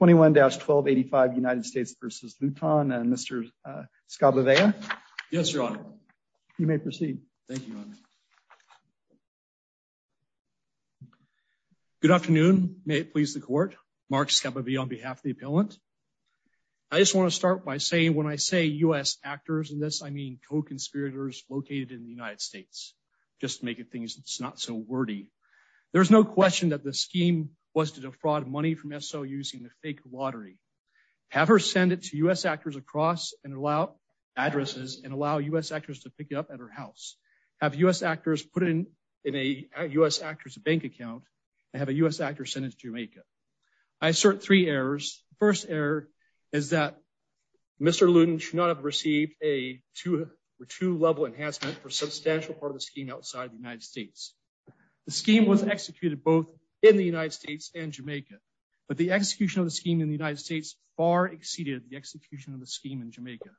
21-1285 United States v. Luton and Mr. Scabalavea. Yes, your honor. You may proceed. Thank you, your honor. Good afternoon. May it please the court. Mark Scabalavea on behalf of the appellant. I just want to start by saying when I say U.S. actors in this, I mean co-conspirators located in the United States, just to make it things it's not so wordy. There's no question that the scheme was to defraud money from S.O. using the fake lottery. Have her send it to U.S. actors across and allow addresses and allow U.S. actors to pick it up at her house. Have U.S. actors put it in a U.S. actors bank account and have a U.S. actor send it to Jamaica. I assert three errors. First error is that Mr. Luton should not have received a two or two level enhancement for a substantial part of the scheme outside the United States. The scheme was executed both in the United States and Jamaica, but the execution of the scheme in the United States far exceeded the execution of the scheme in Jamaica.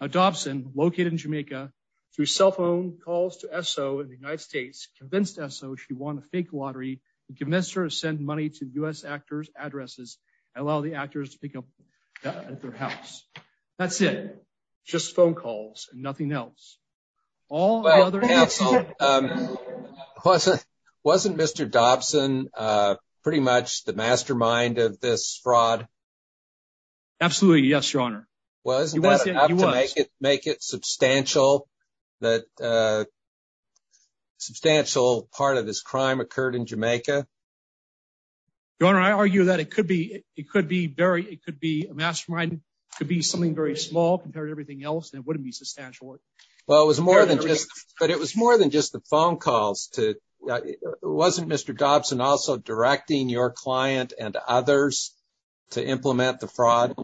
Now Dobson located in Jamaica through cell phone calls to S.O. in the United States convinced S.O. she won a fake lottery and convinced her to send money to U.S. actors addresses and allow the actors to pick up at their house. That's it. Just phone calls and nothing else. All other answers. Wasn't Mr. Dobson pretty much the mastermind of this fraud? Absolutely. Yes, your honor. Well, isn't that enough to make it substantial that substantial part of this crime occurred in Jamaica? Your honor, I argue that it could be. It could be very. It could be a mastermind. It could be something very small compared to everything else. And it wouldn't be substantial. Well, it was more than just but it was more than just the phone calls to wasn't Mr. Dobson also directing your client and others to implement the fraud?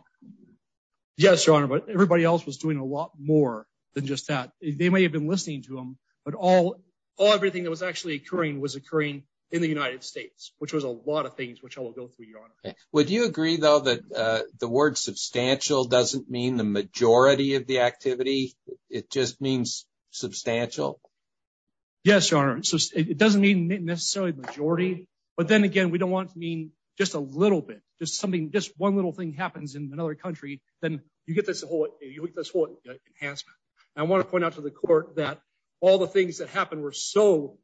Yes, your honor. But everybody else was doing a lot more than just that. They may have been listening to him, but all everything that was actually occurring was occurring in the United States, which was a lot of things which I will go through your honor. Would you agree, though, that the word substantial doesn't mean the majority of the activity? It just means substantial. Yes, your honor. It doesn't mean necessarily majority. But then again, we don't want to mean just a little bit, just something just one little thing happens in another country. Then you get this whole you get this whole enhancement. I want to point out to the court that all the things that happened were so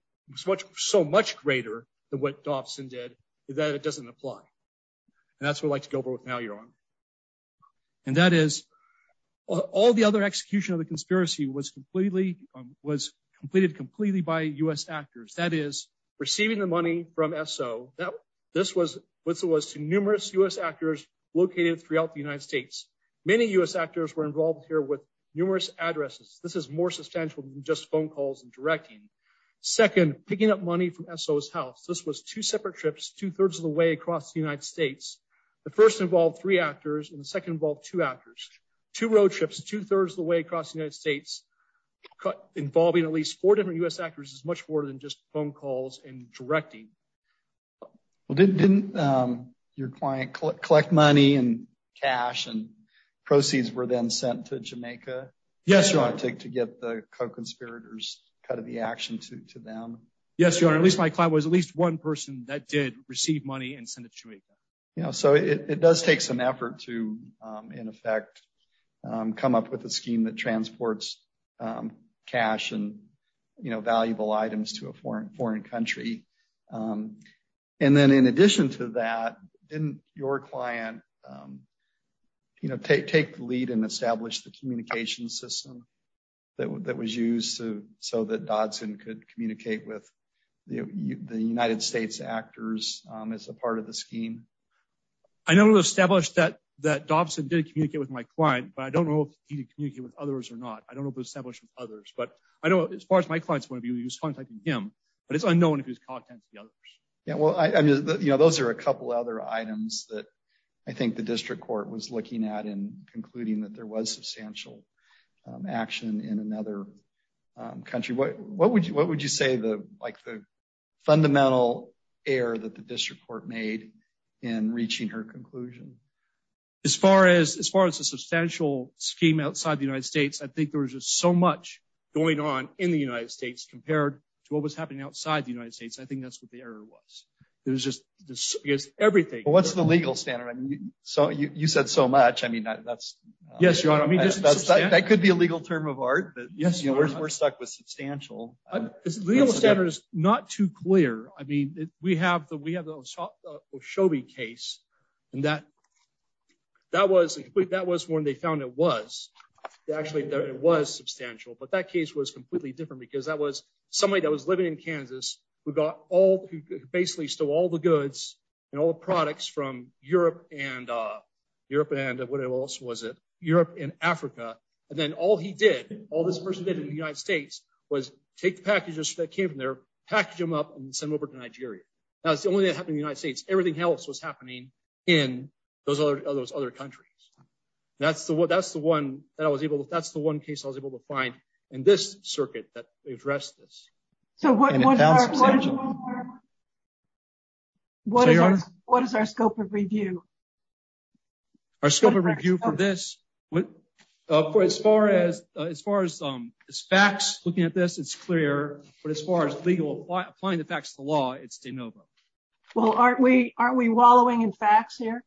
much so much greater than what Dobson did that it doesn't apply. And that's what I'd like to go over with now, your honor. And that is all the other execution of the conspiracy was completely was completed completely by U.S. actors. That is receiving the money from Esso. This was numerous U.S. actors located throughout the United States. Many U.S. actors were involved here with numerous addresses. This is more substantial than just phone calls and directing. Second, picking up money from Esso's house. This was two separate trips, two thirds of the way across the United States. The first involved three actors and the second involved two actors, two road trips, two thirds of the way across the United States, involving at least four different U.S. actors is much more than just phone calls and directing. Well, didn't your client collect money and cash and proceeds were then sent to Jamaica? Yes, your honor. To get the co-conspirators cut of the action to to them? Yes, your honor. At least my client was at least one person that did receive money and send it to Jamaica. So it does take some effort to, in effect, come up with a scheme that transports cash and valuable items to a foreign foreign country. And then in addition to that, didn't your client, you know, take take the lead and establish the communication system that was used to so that Dodson could communicate with the United States actors as a part of the scheme? I know it was established that that Dodson did communicate with my client, but I don't know if he did communicate with others or not. I don't know if it was established with others, but I know as far as my client's point of view, he was contacting him, but it's unknown if it was other items that I think the district court was looking at in concluding that there was substantial action in another country. What what would you what would you say the like the fundamental error that the district court made in reaching her conclusion? As far as as far as the substantial scheme outside the United States, I think there was just so much going on in the United States compared to what was happening outside the United States. I think that's what the error was. It was just I guess everything. What's the legal standard? I mean, so you said so much. I mean, that's yes, your honor. I mean, that's that could be a legal term of art, but yes, you know, we're stuck with substantial legal standards. Not too clear. I mean, we have the we have the Shelby case and that that was that was when they found it was actually there. It was substantial, but that case was completely different because that was somebody that was living in Kansas. We got all basically still all the goods and all the products from Europe and Europe and what else was it Europe and Africa. And then all he did, all this person did in the United States was take packages that came from there, package them up and send them over to Nigeria. That's the only that happened in the United States. Everything else was happening in those other those other countries. That's the that's the one that I was able to that's the one case I was able to find in this circuit that addressed this. So what what is our what is our scope of review? Our scope of review for this, for as far as as far as facts looking at this, it's clear, but as far as legal applying the facts of the law, it's de novo. Well, aren't we aren't we wallowing in facts here?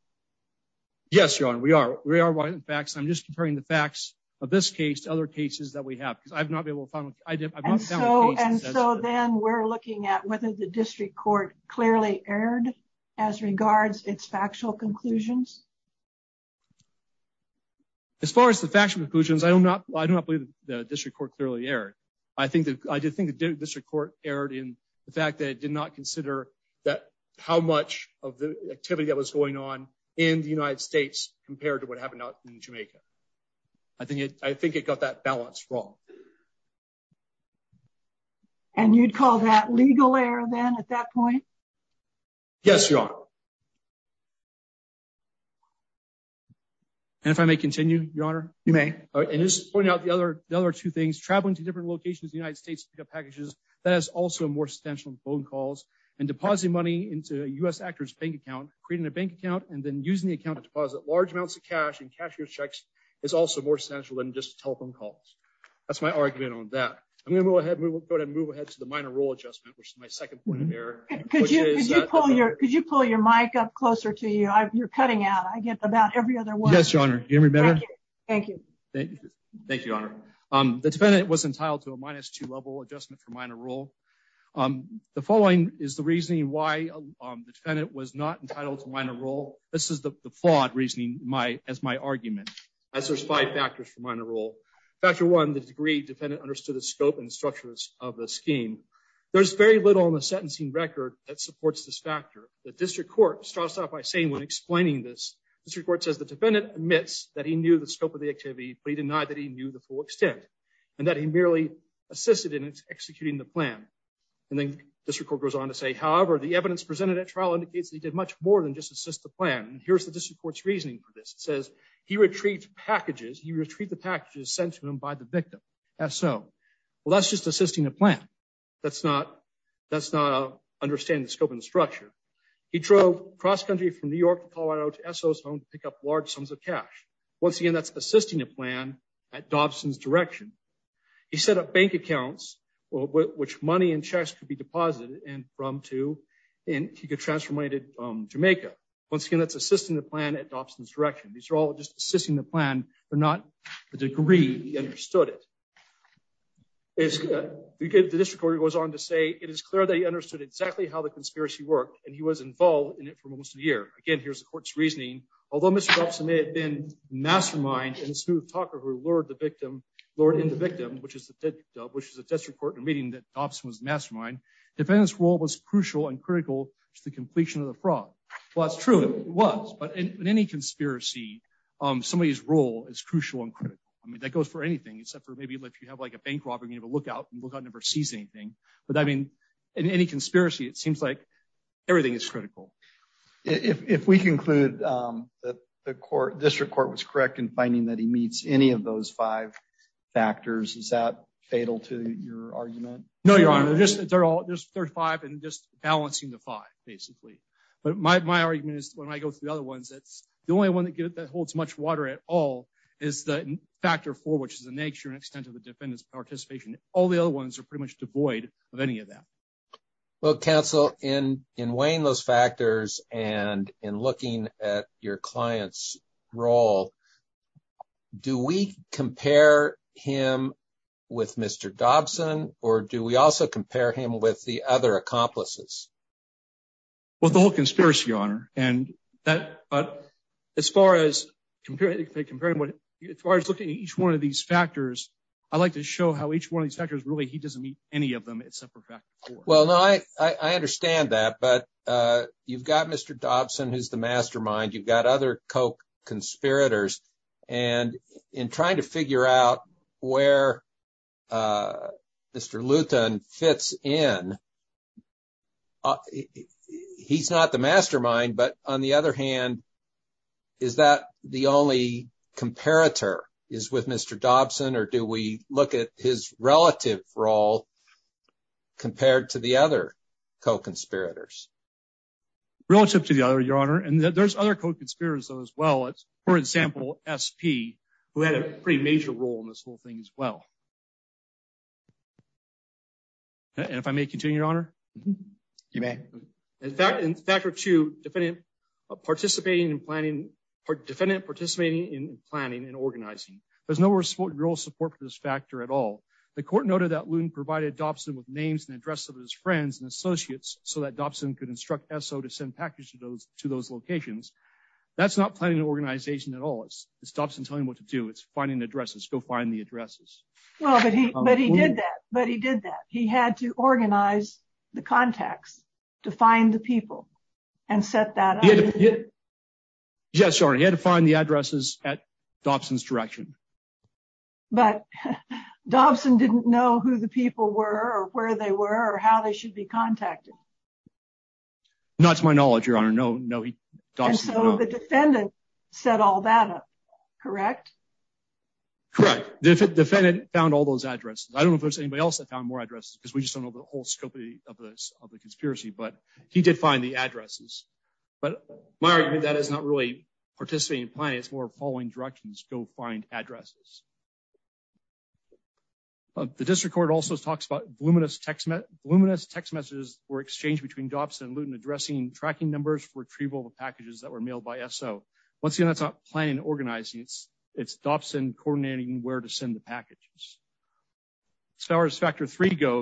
Yes, your honor. We are. We are in fact, I'm just comparing the facts of this case to other cases that we have because I've not been able to find. And so then we're looking at whether the district court clearly erred as regards its factual conclusions. As far as the factual conclusions, I do not I do not believe the district court clearly erred. I think that I do think the district court erred in the fact that it did not consider that how much of the activity that was going on in the United States compared to what happened out in Jamaica. I think it I think it got that balance wrong. And you'd call that legal error then at that point? Yes, your honor. And if I may continue, your honor, you may just point out the other the other two things traveling to different locations in the United States to pick up packages that has also more substantial phone calls and depositing money into a U.S. actor's bank account, creating a bank account and then using the account to deposit large amounts of cash and cashier checks is also more central than just telephone calls. That's my argument on that. I'm going to go ahead and move ahead to the minor rule adjustment, which is my second point of error. Could you pull your could you pull your mic up closer to you? You're cutting out. I get about every other one. Yes, your honor. Thank you. Thank you. Thank you, your honor. The defendant was entitled to a minus two level adjustment for minor rule. The following is the reasoning why the defendant was not entitled to this is the flawed reasoning as my argument as there's five factors for minor rule. Factor one, the degree defendant understood the scope and structures of the scheme. There's very little in the sentencing record that supports this factor. The district court starts out by saying when explaining this, the district court says the defendant admits that he knew the scope of the activity, but he denied that he knew the full extent and that he merely assisted in executing the plan. And then district court goes on to say, however, the evidence presented at trial indicates he did much more than just assist the plan. And here's the district court's reasoning for this. It says he retrieved packages. He retrieved the packages sent to him by the victim. So, well, that's just assisting a plan. That's not that's not understanding the scope and structure. He drove cross country from New York, Colorado to pick up large sums of cash. Once again, that's assisting a plan at Dobson's direction. He set up bank accounts, which money and checks could be deposited and from to and he could transfer money to Jamaica. Once again, that's assisting the plan at Dobson's direction. These are all just assisting the plan, but not the degree he understood it. The district court goes on to say it is clear that he understood exactly how the conspiracy worked and he was involved in it for almost a year. Again, here's the court's reasoning. Although Mr. Dobson may have been mastermind and smooth talker who lured the victim, lured in the victim, which is the which is a district court in a meeting that Dobson was the mastermind. Defendant's role was crucial and critical to the completion of the fraud. Well, that's true. It was. But in any conspiracy, somebody's role is crucial and critical. I mean, that goes for anything except for maybe if you have like a bank robbery, you have a lookout and the lookout never sees anything. But I mean, in any conspiracy, it seems like everything is critical. If we conclude that the court district court was correct in finding that meets any of those five factors, is that fatal to your argument? No, Your Honor. They're all just five and just balancing the five, basically. But my argument is when I go through the other ones, it's the only one that holds much water at all is the factor four, which is the nature and extent of the defendant's participation. All the other ones are pretty much devoid of any of that. Well, counsel, in weighing those factors and in looking at your client's role, do we compare him with Mr. Dobson or do we also compare him with the other accomplices? Well, the whole conspiracy, Your Honor. As far as looking at each one of these factors, I like to show how each one of these factors really, he doesn't meet any of them except for factor four. Well, no, I understand that. But you've got Mr. Dobson, who's the mastermind. You've got other co-conspirators. And in trying to figure out where Mr. Luthan fits in, he's not the mastermind. But on the other hand, is that the only comparator is with Mr. Dobson or do we look at his relative role compared to the other co-conspirators? Relative to the other, Your Honor, and there's other co-conspirators as well. For example, SP, who had a pretty major role in this whole thing as well. And if I may continue, Your Honor? You may. In factor two, a defendant participating in planning and organizing. There's no real support for this factor at all. The court noted that Luthan provided Dobson with names and addresses of his friends and associates so that Dobson could instruct SO to send packages to those locations. That's not planning an organization at all. It's Dobson telling him what to do. It's finding addresses. Go find the addresses. Well, but he did that. But he did that. He had to organize the contacts to find the people and set that up. Yes, Your Honor. He had to find the addresses at Dobson's direction. But Dobson didn't know who the people were or where they were or how they should be contacted. Not to my knowledge, Your Honor. And so the defendant set all that up, correct? Correct. The defendant found all those addresses. I don't know if there's anybody else found more addresses because we just don't know the whole scope of the conspiracy. But he did find the addresses. But my argument that is not really participating in planning. It's more following directions. Go find addresses. The district court also talks about voluminous text messages were exchanged between Dobson and Luthan addressing tracking numbers for retrieval of packages that were mailed by SO. Once again, that's not planning and organizing. It's Dobson coordinating where to go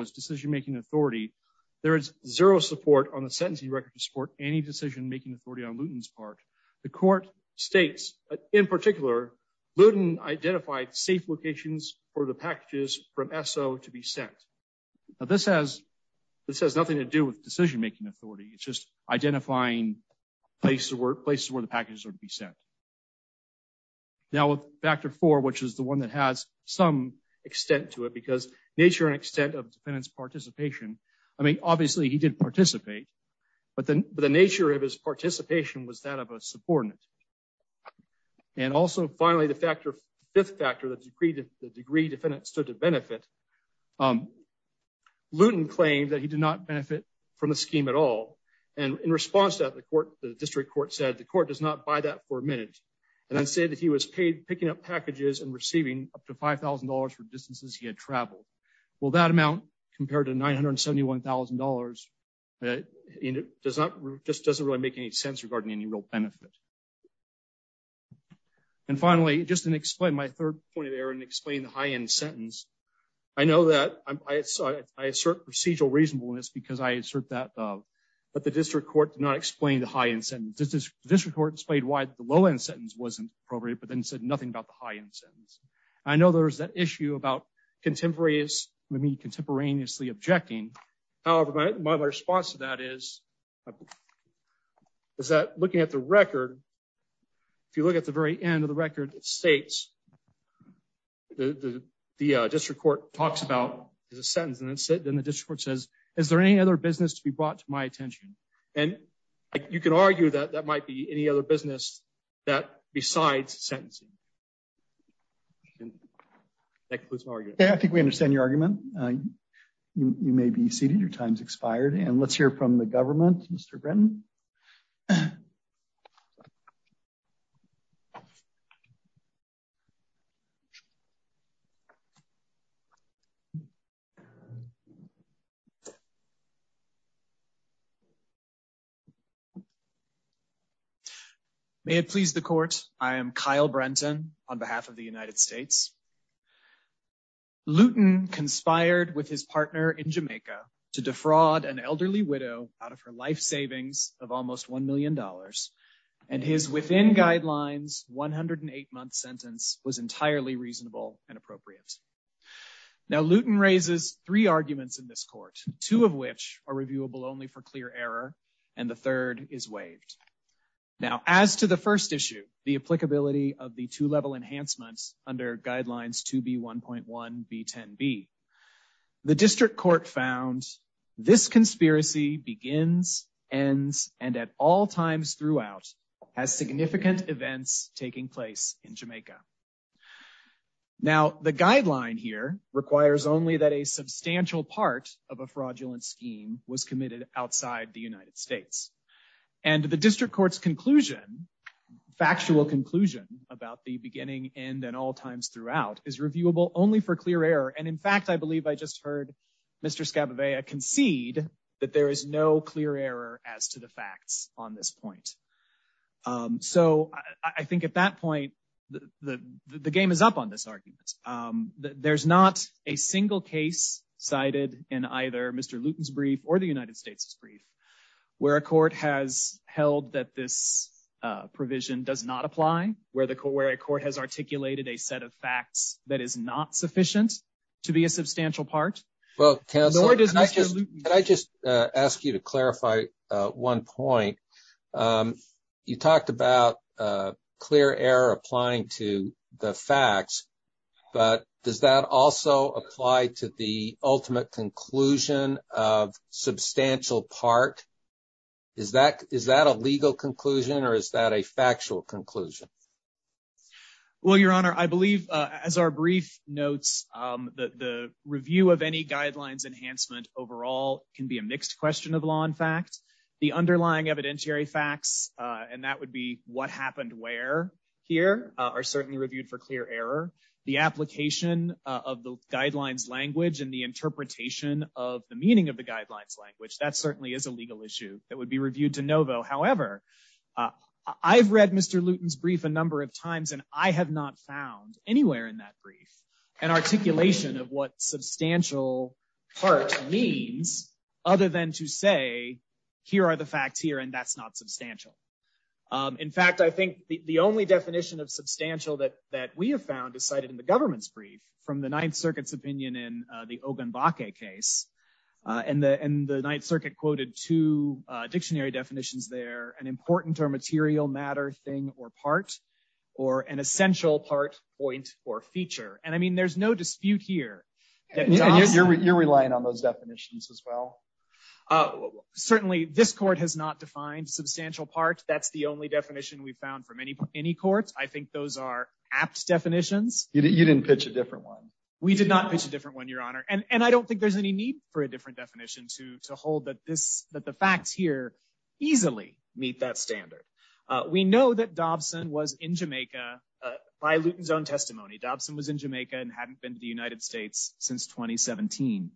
is decision-making authority. There is zero support on the sentencing record to support any decision-making authority on Luthan's part. The court states, in particular, Luthan identified safe locations for the packages from SO to be sent. This has nothing to do with decision-making authority. It's just identifying places where the packages are to be sent. Now with Factor 4, which is the one that has some extent to it because nature and extent of defendant's participation. I mean, obviously, he did participate. But the nature of his participation was that of a subordinate. And also, finally, the fifth factor, the degree the defendant stood to benefit. Luthan claimed that he did not benefit from the scheme at all. And in response to that, the district court said, the court does not buy that for a minute. And then said that he was paid picking up packages and receiving up to $5,000 for distances he had traveled. Well, that amount compared to $971,000 just doesn't really make any sense regarding any real benefit. And finally, just to explain my third point of error and explain the high-end sentence. I know that I assert procedural reasonableness because I assert that the district court did not explain the high-end sentence. The district court explained why the low-end sentence wasn't appropriate, but then said nothing about the high-end sentence. I know there's that issue about contemporaries, I mean, contemporaneously objecting. However, my response to that is is that looking at the record, if you look at the very end of the record, it states the district court talks about is a sentence. And then the district court says, is there any other business to be brought to my attention? And you can argue that that might be any other business besides sentencing. That concludes my argument. I think we understand your argument. You may be seated. Your time's expired. And let's hear from the government, Mr. Brenton. May it please the court, I am Kyle Brenton on behalf of the United States. Luton conspired with his partner in Jamaica to defraud an elderly widow out of her life savings of almost $1 million. And his within guidelines 108-month sentence was entirely reasonable and appropriate. Now, Luton raises three arguments in this court, two of which are reviewable only for clear error, and the third is waived. Now, as to the first issue, the applicability of the two B1.1B10B, the district court found this conspiracy begins, ends, and at all times throughout has significant events taking place in Jamaica. Now, the guideline here requires only that a substantial part of a fraudulent scheme was committed outside the United States. And the district court's conclusion, factual conclusion about the beginning, end, and all times throughout is reviewable only for clear error. And in fact, I believe I just heard Mr. Scabavea concede that there is no clear error as to the facts on this point. So I think at that point, the game is up on this argument. There's not a single case cited in either Mr. Luton's brief or the United States' brief where a court has held that this a set of facts that is not sufficient to be a substantial part. Can I just ask you to clarify one point? You talked about clear error applying to the facts, but does that also apply to the ultimate conclusion of substantial part? Is that a legal conclusion or is that a factual conclusion? Well, Your Honor, I believe as our brief notes, the review of any guidelines enhancement overall can be a mixed question of law and fact. The underlying evidentiary facts, and that would be what happened where here, are certainly reviewed for clear error. The application of the guidelines language and the interpretation of the meaning of the guidelines language, that certainly is a legal issue that would be reviewed to novo. However, I've read Mr. Luton's brief and I have not found anywhere in that brief an articulation of what substantial part means other than to say here are the facts here and that's not substantial. In fact, I think the only definition of substantial that we have found is cited in the government's brief from the Ninth Circuit's opinion in the Ogunbake case. And the Ninth Circuit quoted two dictionary definitions there, an important or material matter thing or part, or an essential part, point, or feature. And I mean, there's no dispute here. And you're relying on those definitions as well? Certainly, this court has not defined substantial part. That's the only definition we've found from any courts. I think those are apt definitions. You didn't pitch a different one. We did not pitch a different one, Your Honor. And I don't think there's any need for a different definition to hold that the facts here easily meet that standard. We know that Dobson was in Jamaica by Luton's own testimony. Dobson was in Jamaica and hadn't been to the United States since 2017.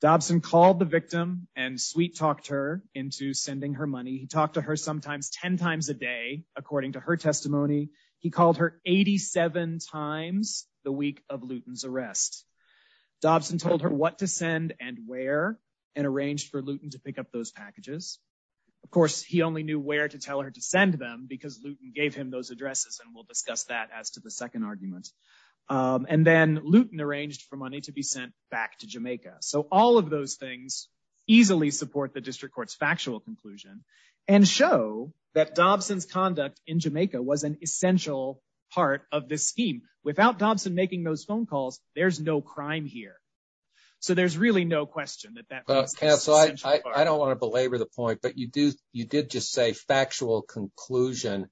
Dobson called the victim and sweet-talked her into sending her money. He talked to her sometimes 10 times a day, according to her testimony. He called her 87 times the week of Luton's arrest. Dobson told her what to send and where, and arranged for Luton to pick up those packages. Of course, he only knew where to tell her to send them because Luton gave him those addresses, and we'll discuss that as to the second argument. And then Luton arranged for money to be sent back to Jamaica. So all of those things easily support the district court's factual conclusion and show that Dobson's conduct in Jamaica was an essential part of this scheme. Without Dobson making those calls, there's no crime here. So there's really no question that that was an essential part. Counsel, I don't want to belabor the point, but you did just say factual conclusion.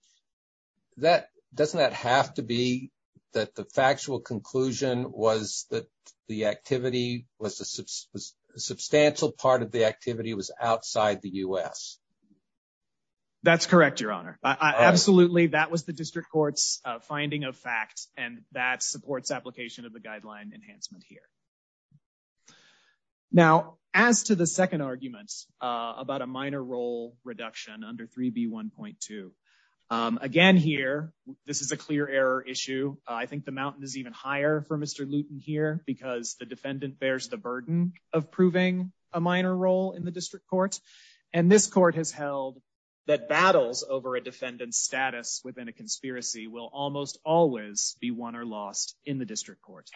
Doesn't that have to be that the factual conclusion was that a substantial part of the activity was outside the U.S.? That's correct, Your Honor. Absolutely, that was the district court's finding of fact, and that supports application of the guideline enhancement here. Now, as to the second argument about a minor role reduction under 3B1.2, again here, this is a clear error issue. I think the mountain is even higher for Mr. Luton here because the defendant bears the burden of proving a minor role in the district court, and this court has held that battles over a defendant's status within a conspiracy will almost always be won or lost in the district court.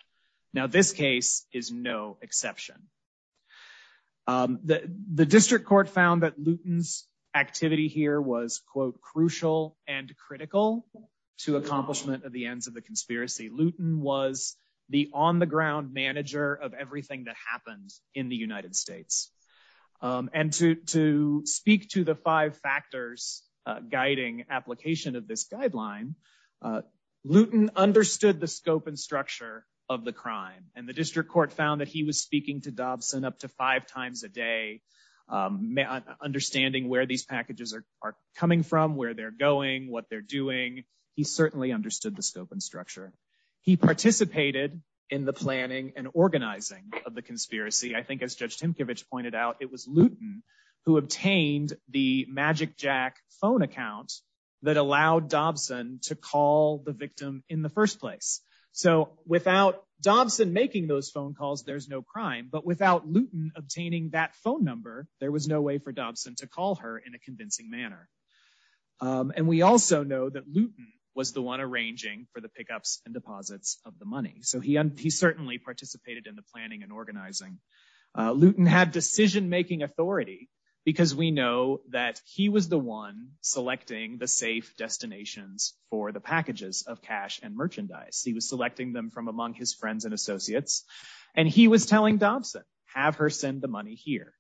Now, this case is no exception. The district court found that Luton's activity here was, quote, crucial and critical to accomplishment of the ends of the conspiracy. Luton was the on-the-ground manager of everything that happened in the United States, and to speak to the five factors guiding application of this guideline, Luton understood the scope and structure of the crime, and the district court found that he was speaking to Dobson up to five times a day, understanding where these packages are coming from, where they're going, what they're doing. He certainly understood the scope and structure. He participated in the planning and organizing of the conspiracy. I think, as Judge Tymkiewicz pointed out, it was Luton who obtained the MagicJack phone account that allowed Dobson to call the victim in the first place. So, without Dobson making those phone calls, there's no crime, but without Luton obtaining that phone number, there was no way for Dobson to call her in a convincing manner. And we also know that Luton was the one arranging for the pickups and deposits of the money. So, he certainly participated in the planning and organizing. Luton had decision-making authority because we know that he was the one selecting the safe destinations for the packages of cash and merchandise. He was selecting them from among his friends and associates, and he was telling Dobson, have her send the money here.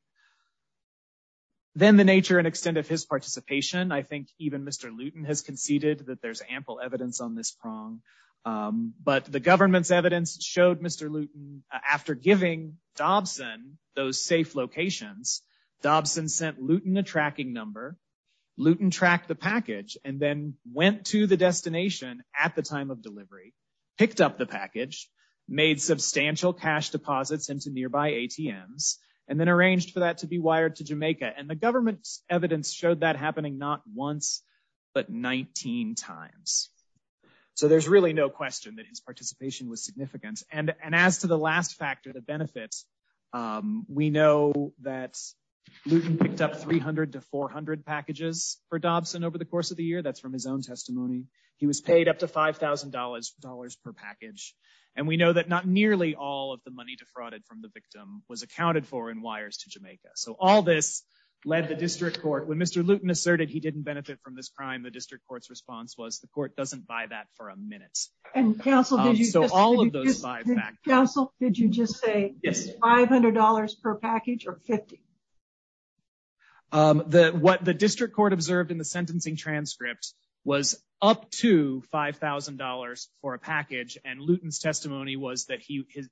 Then, the nature and extent of his participation, I think even Mr. Luton has conceded that there's ample evidence on this prong. But the government's evidence showed Mr. Luton, after giving Dobson those safe locations, Dobson sent Luton a tracking number. Luton tracked the package and then went to the destination at the time of delivery, picked up the package, made substantial cash deposits into nearby ATMs, and then arranged for that to be wired to Jamaica. And the government's evidence showed that happening not once, but 19 times. So, there's really no question that his participation was significant. And as to the last factor, the benefits, we know that Luton picked up 300 to 400 packages for Dobson over the course of the year. That's from his own testimony. He was accounted for in wires to Jamaica. So, all this led the district court. When Mr. Luton asserted he didn't benefit from this crime, the district court's response was the court doesn't buy that for a minute. So, all of those five factors. Counsel, did you just say $500 per package or 50? The district court observed in the sentencing transcript was up to $5,000 for a package, and Luton's testimony was that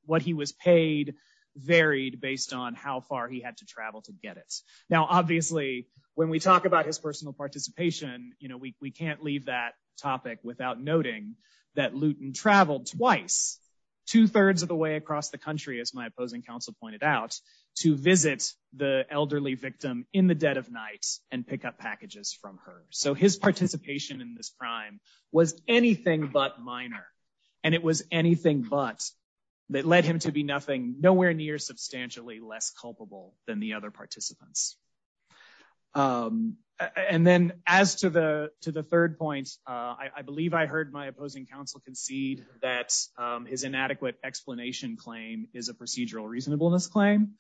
what he was paid varied based on how far he had to travel to get it. Now, obviously, when we talk about his personal participation, we can't leave that topic without noting that Luton traveled twice, two-thirds of the way across the country, as my opposing counsel pointed out, to visit the elderly victim in the dead of night and pick up anything but. That led him to be nowhere near substantially less culpable than the other participants. And then, as to the third point, I believe I heard my opposing counsel concede that his inadequate explanation claim is a procedural reasonableness claim.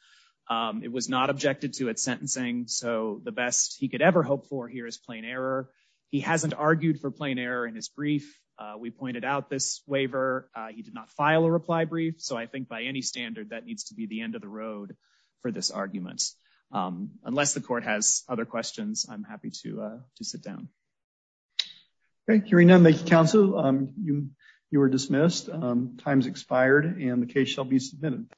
It was not objected to at sentencing. So, the best he could ever hope for here is plain error. He hasn't out this waiver. He did not file a reply brief. So, I think by any standard, that needs to be the end of the road for this argument. Unless the court has other questions, I'm happy to sit down. Okay. Hearing none, thank you, counsel. You are dismissed. Time's expired and the case shall be submitted.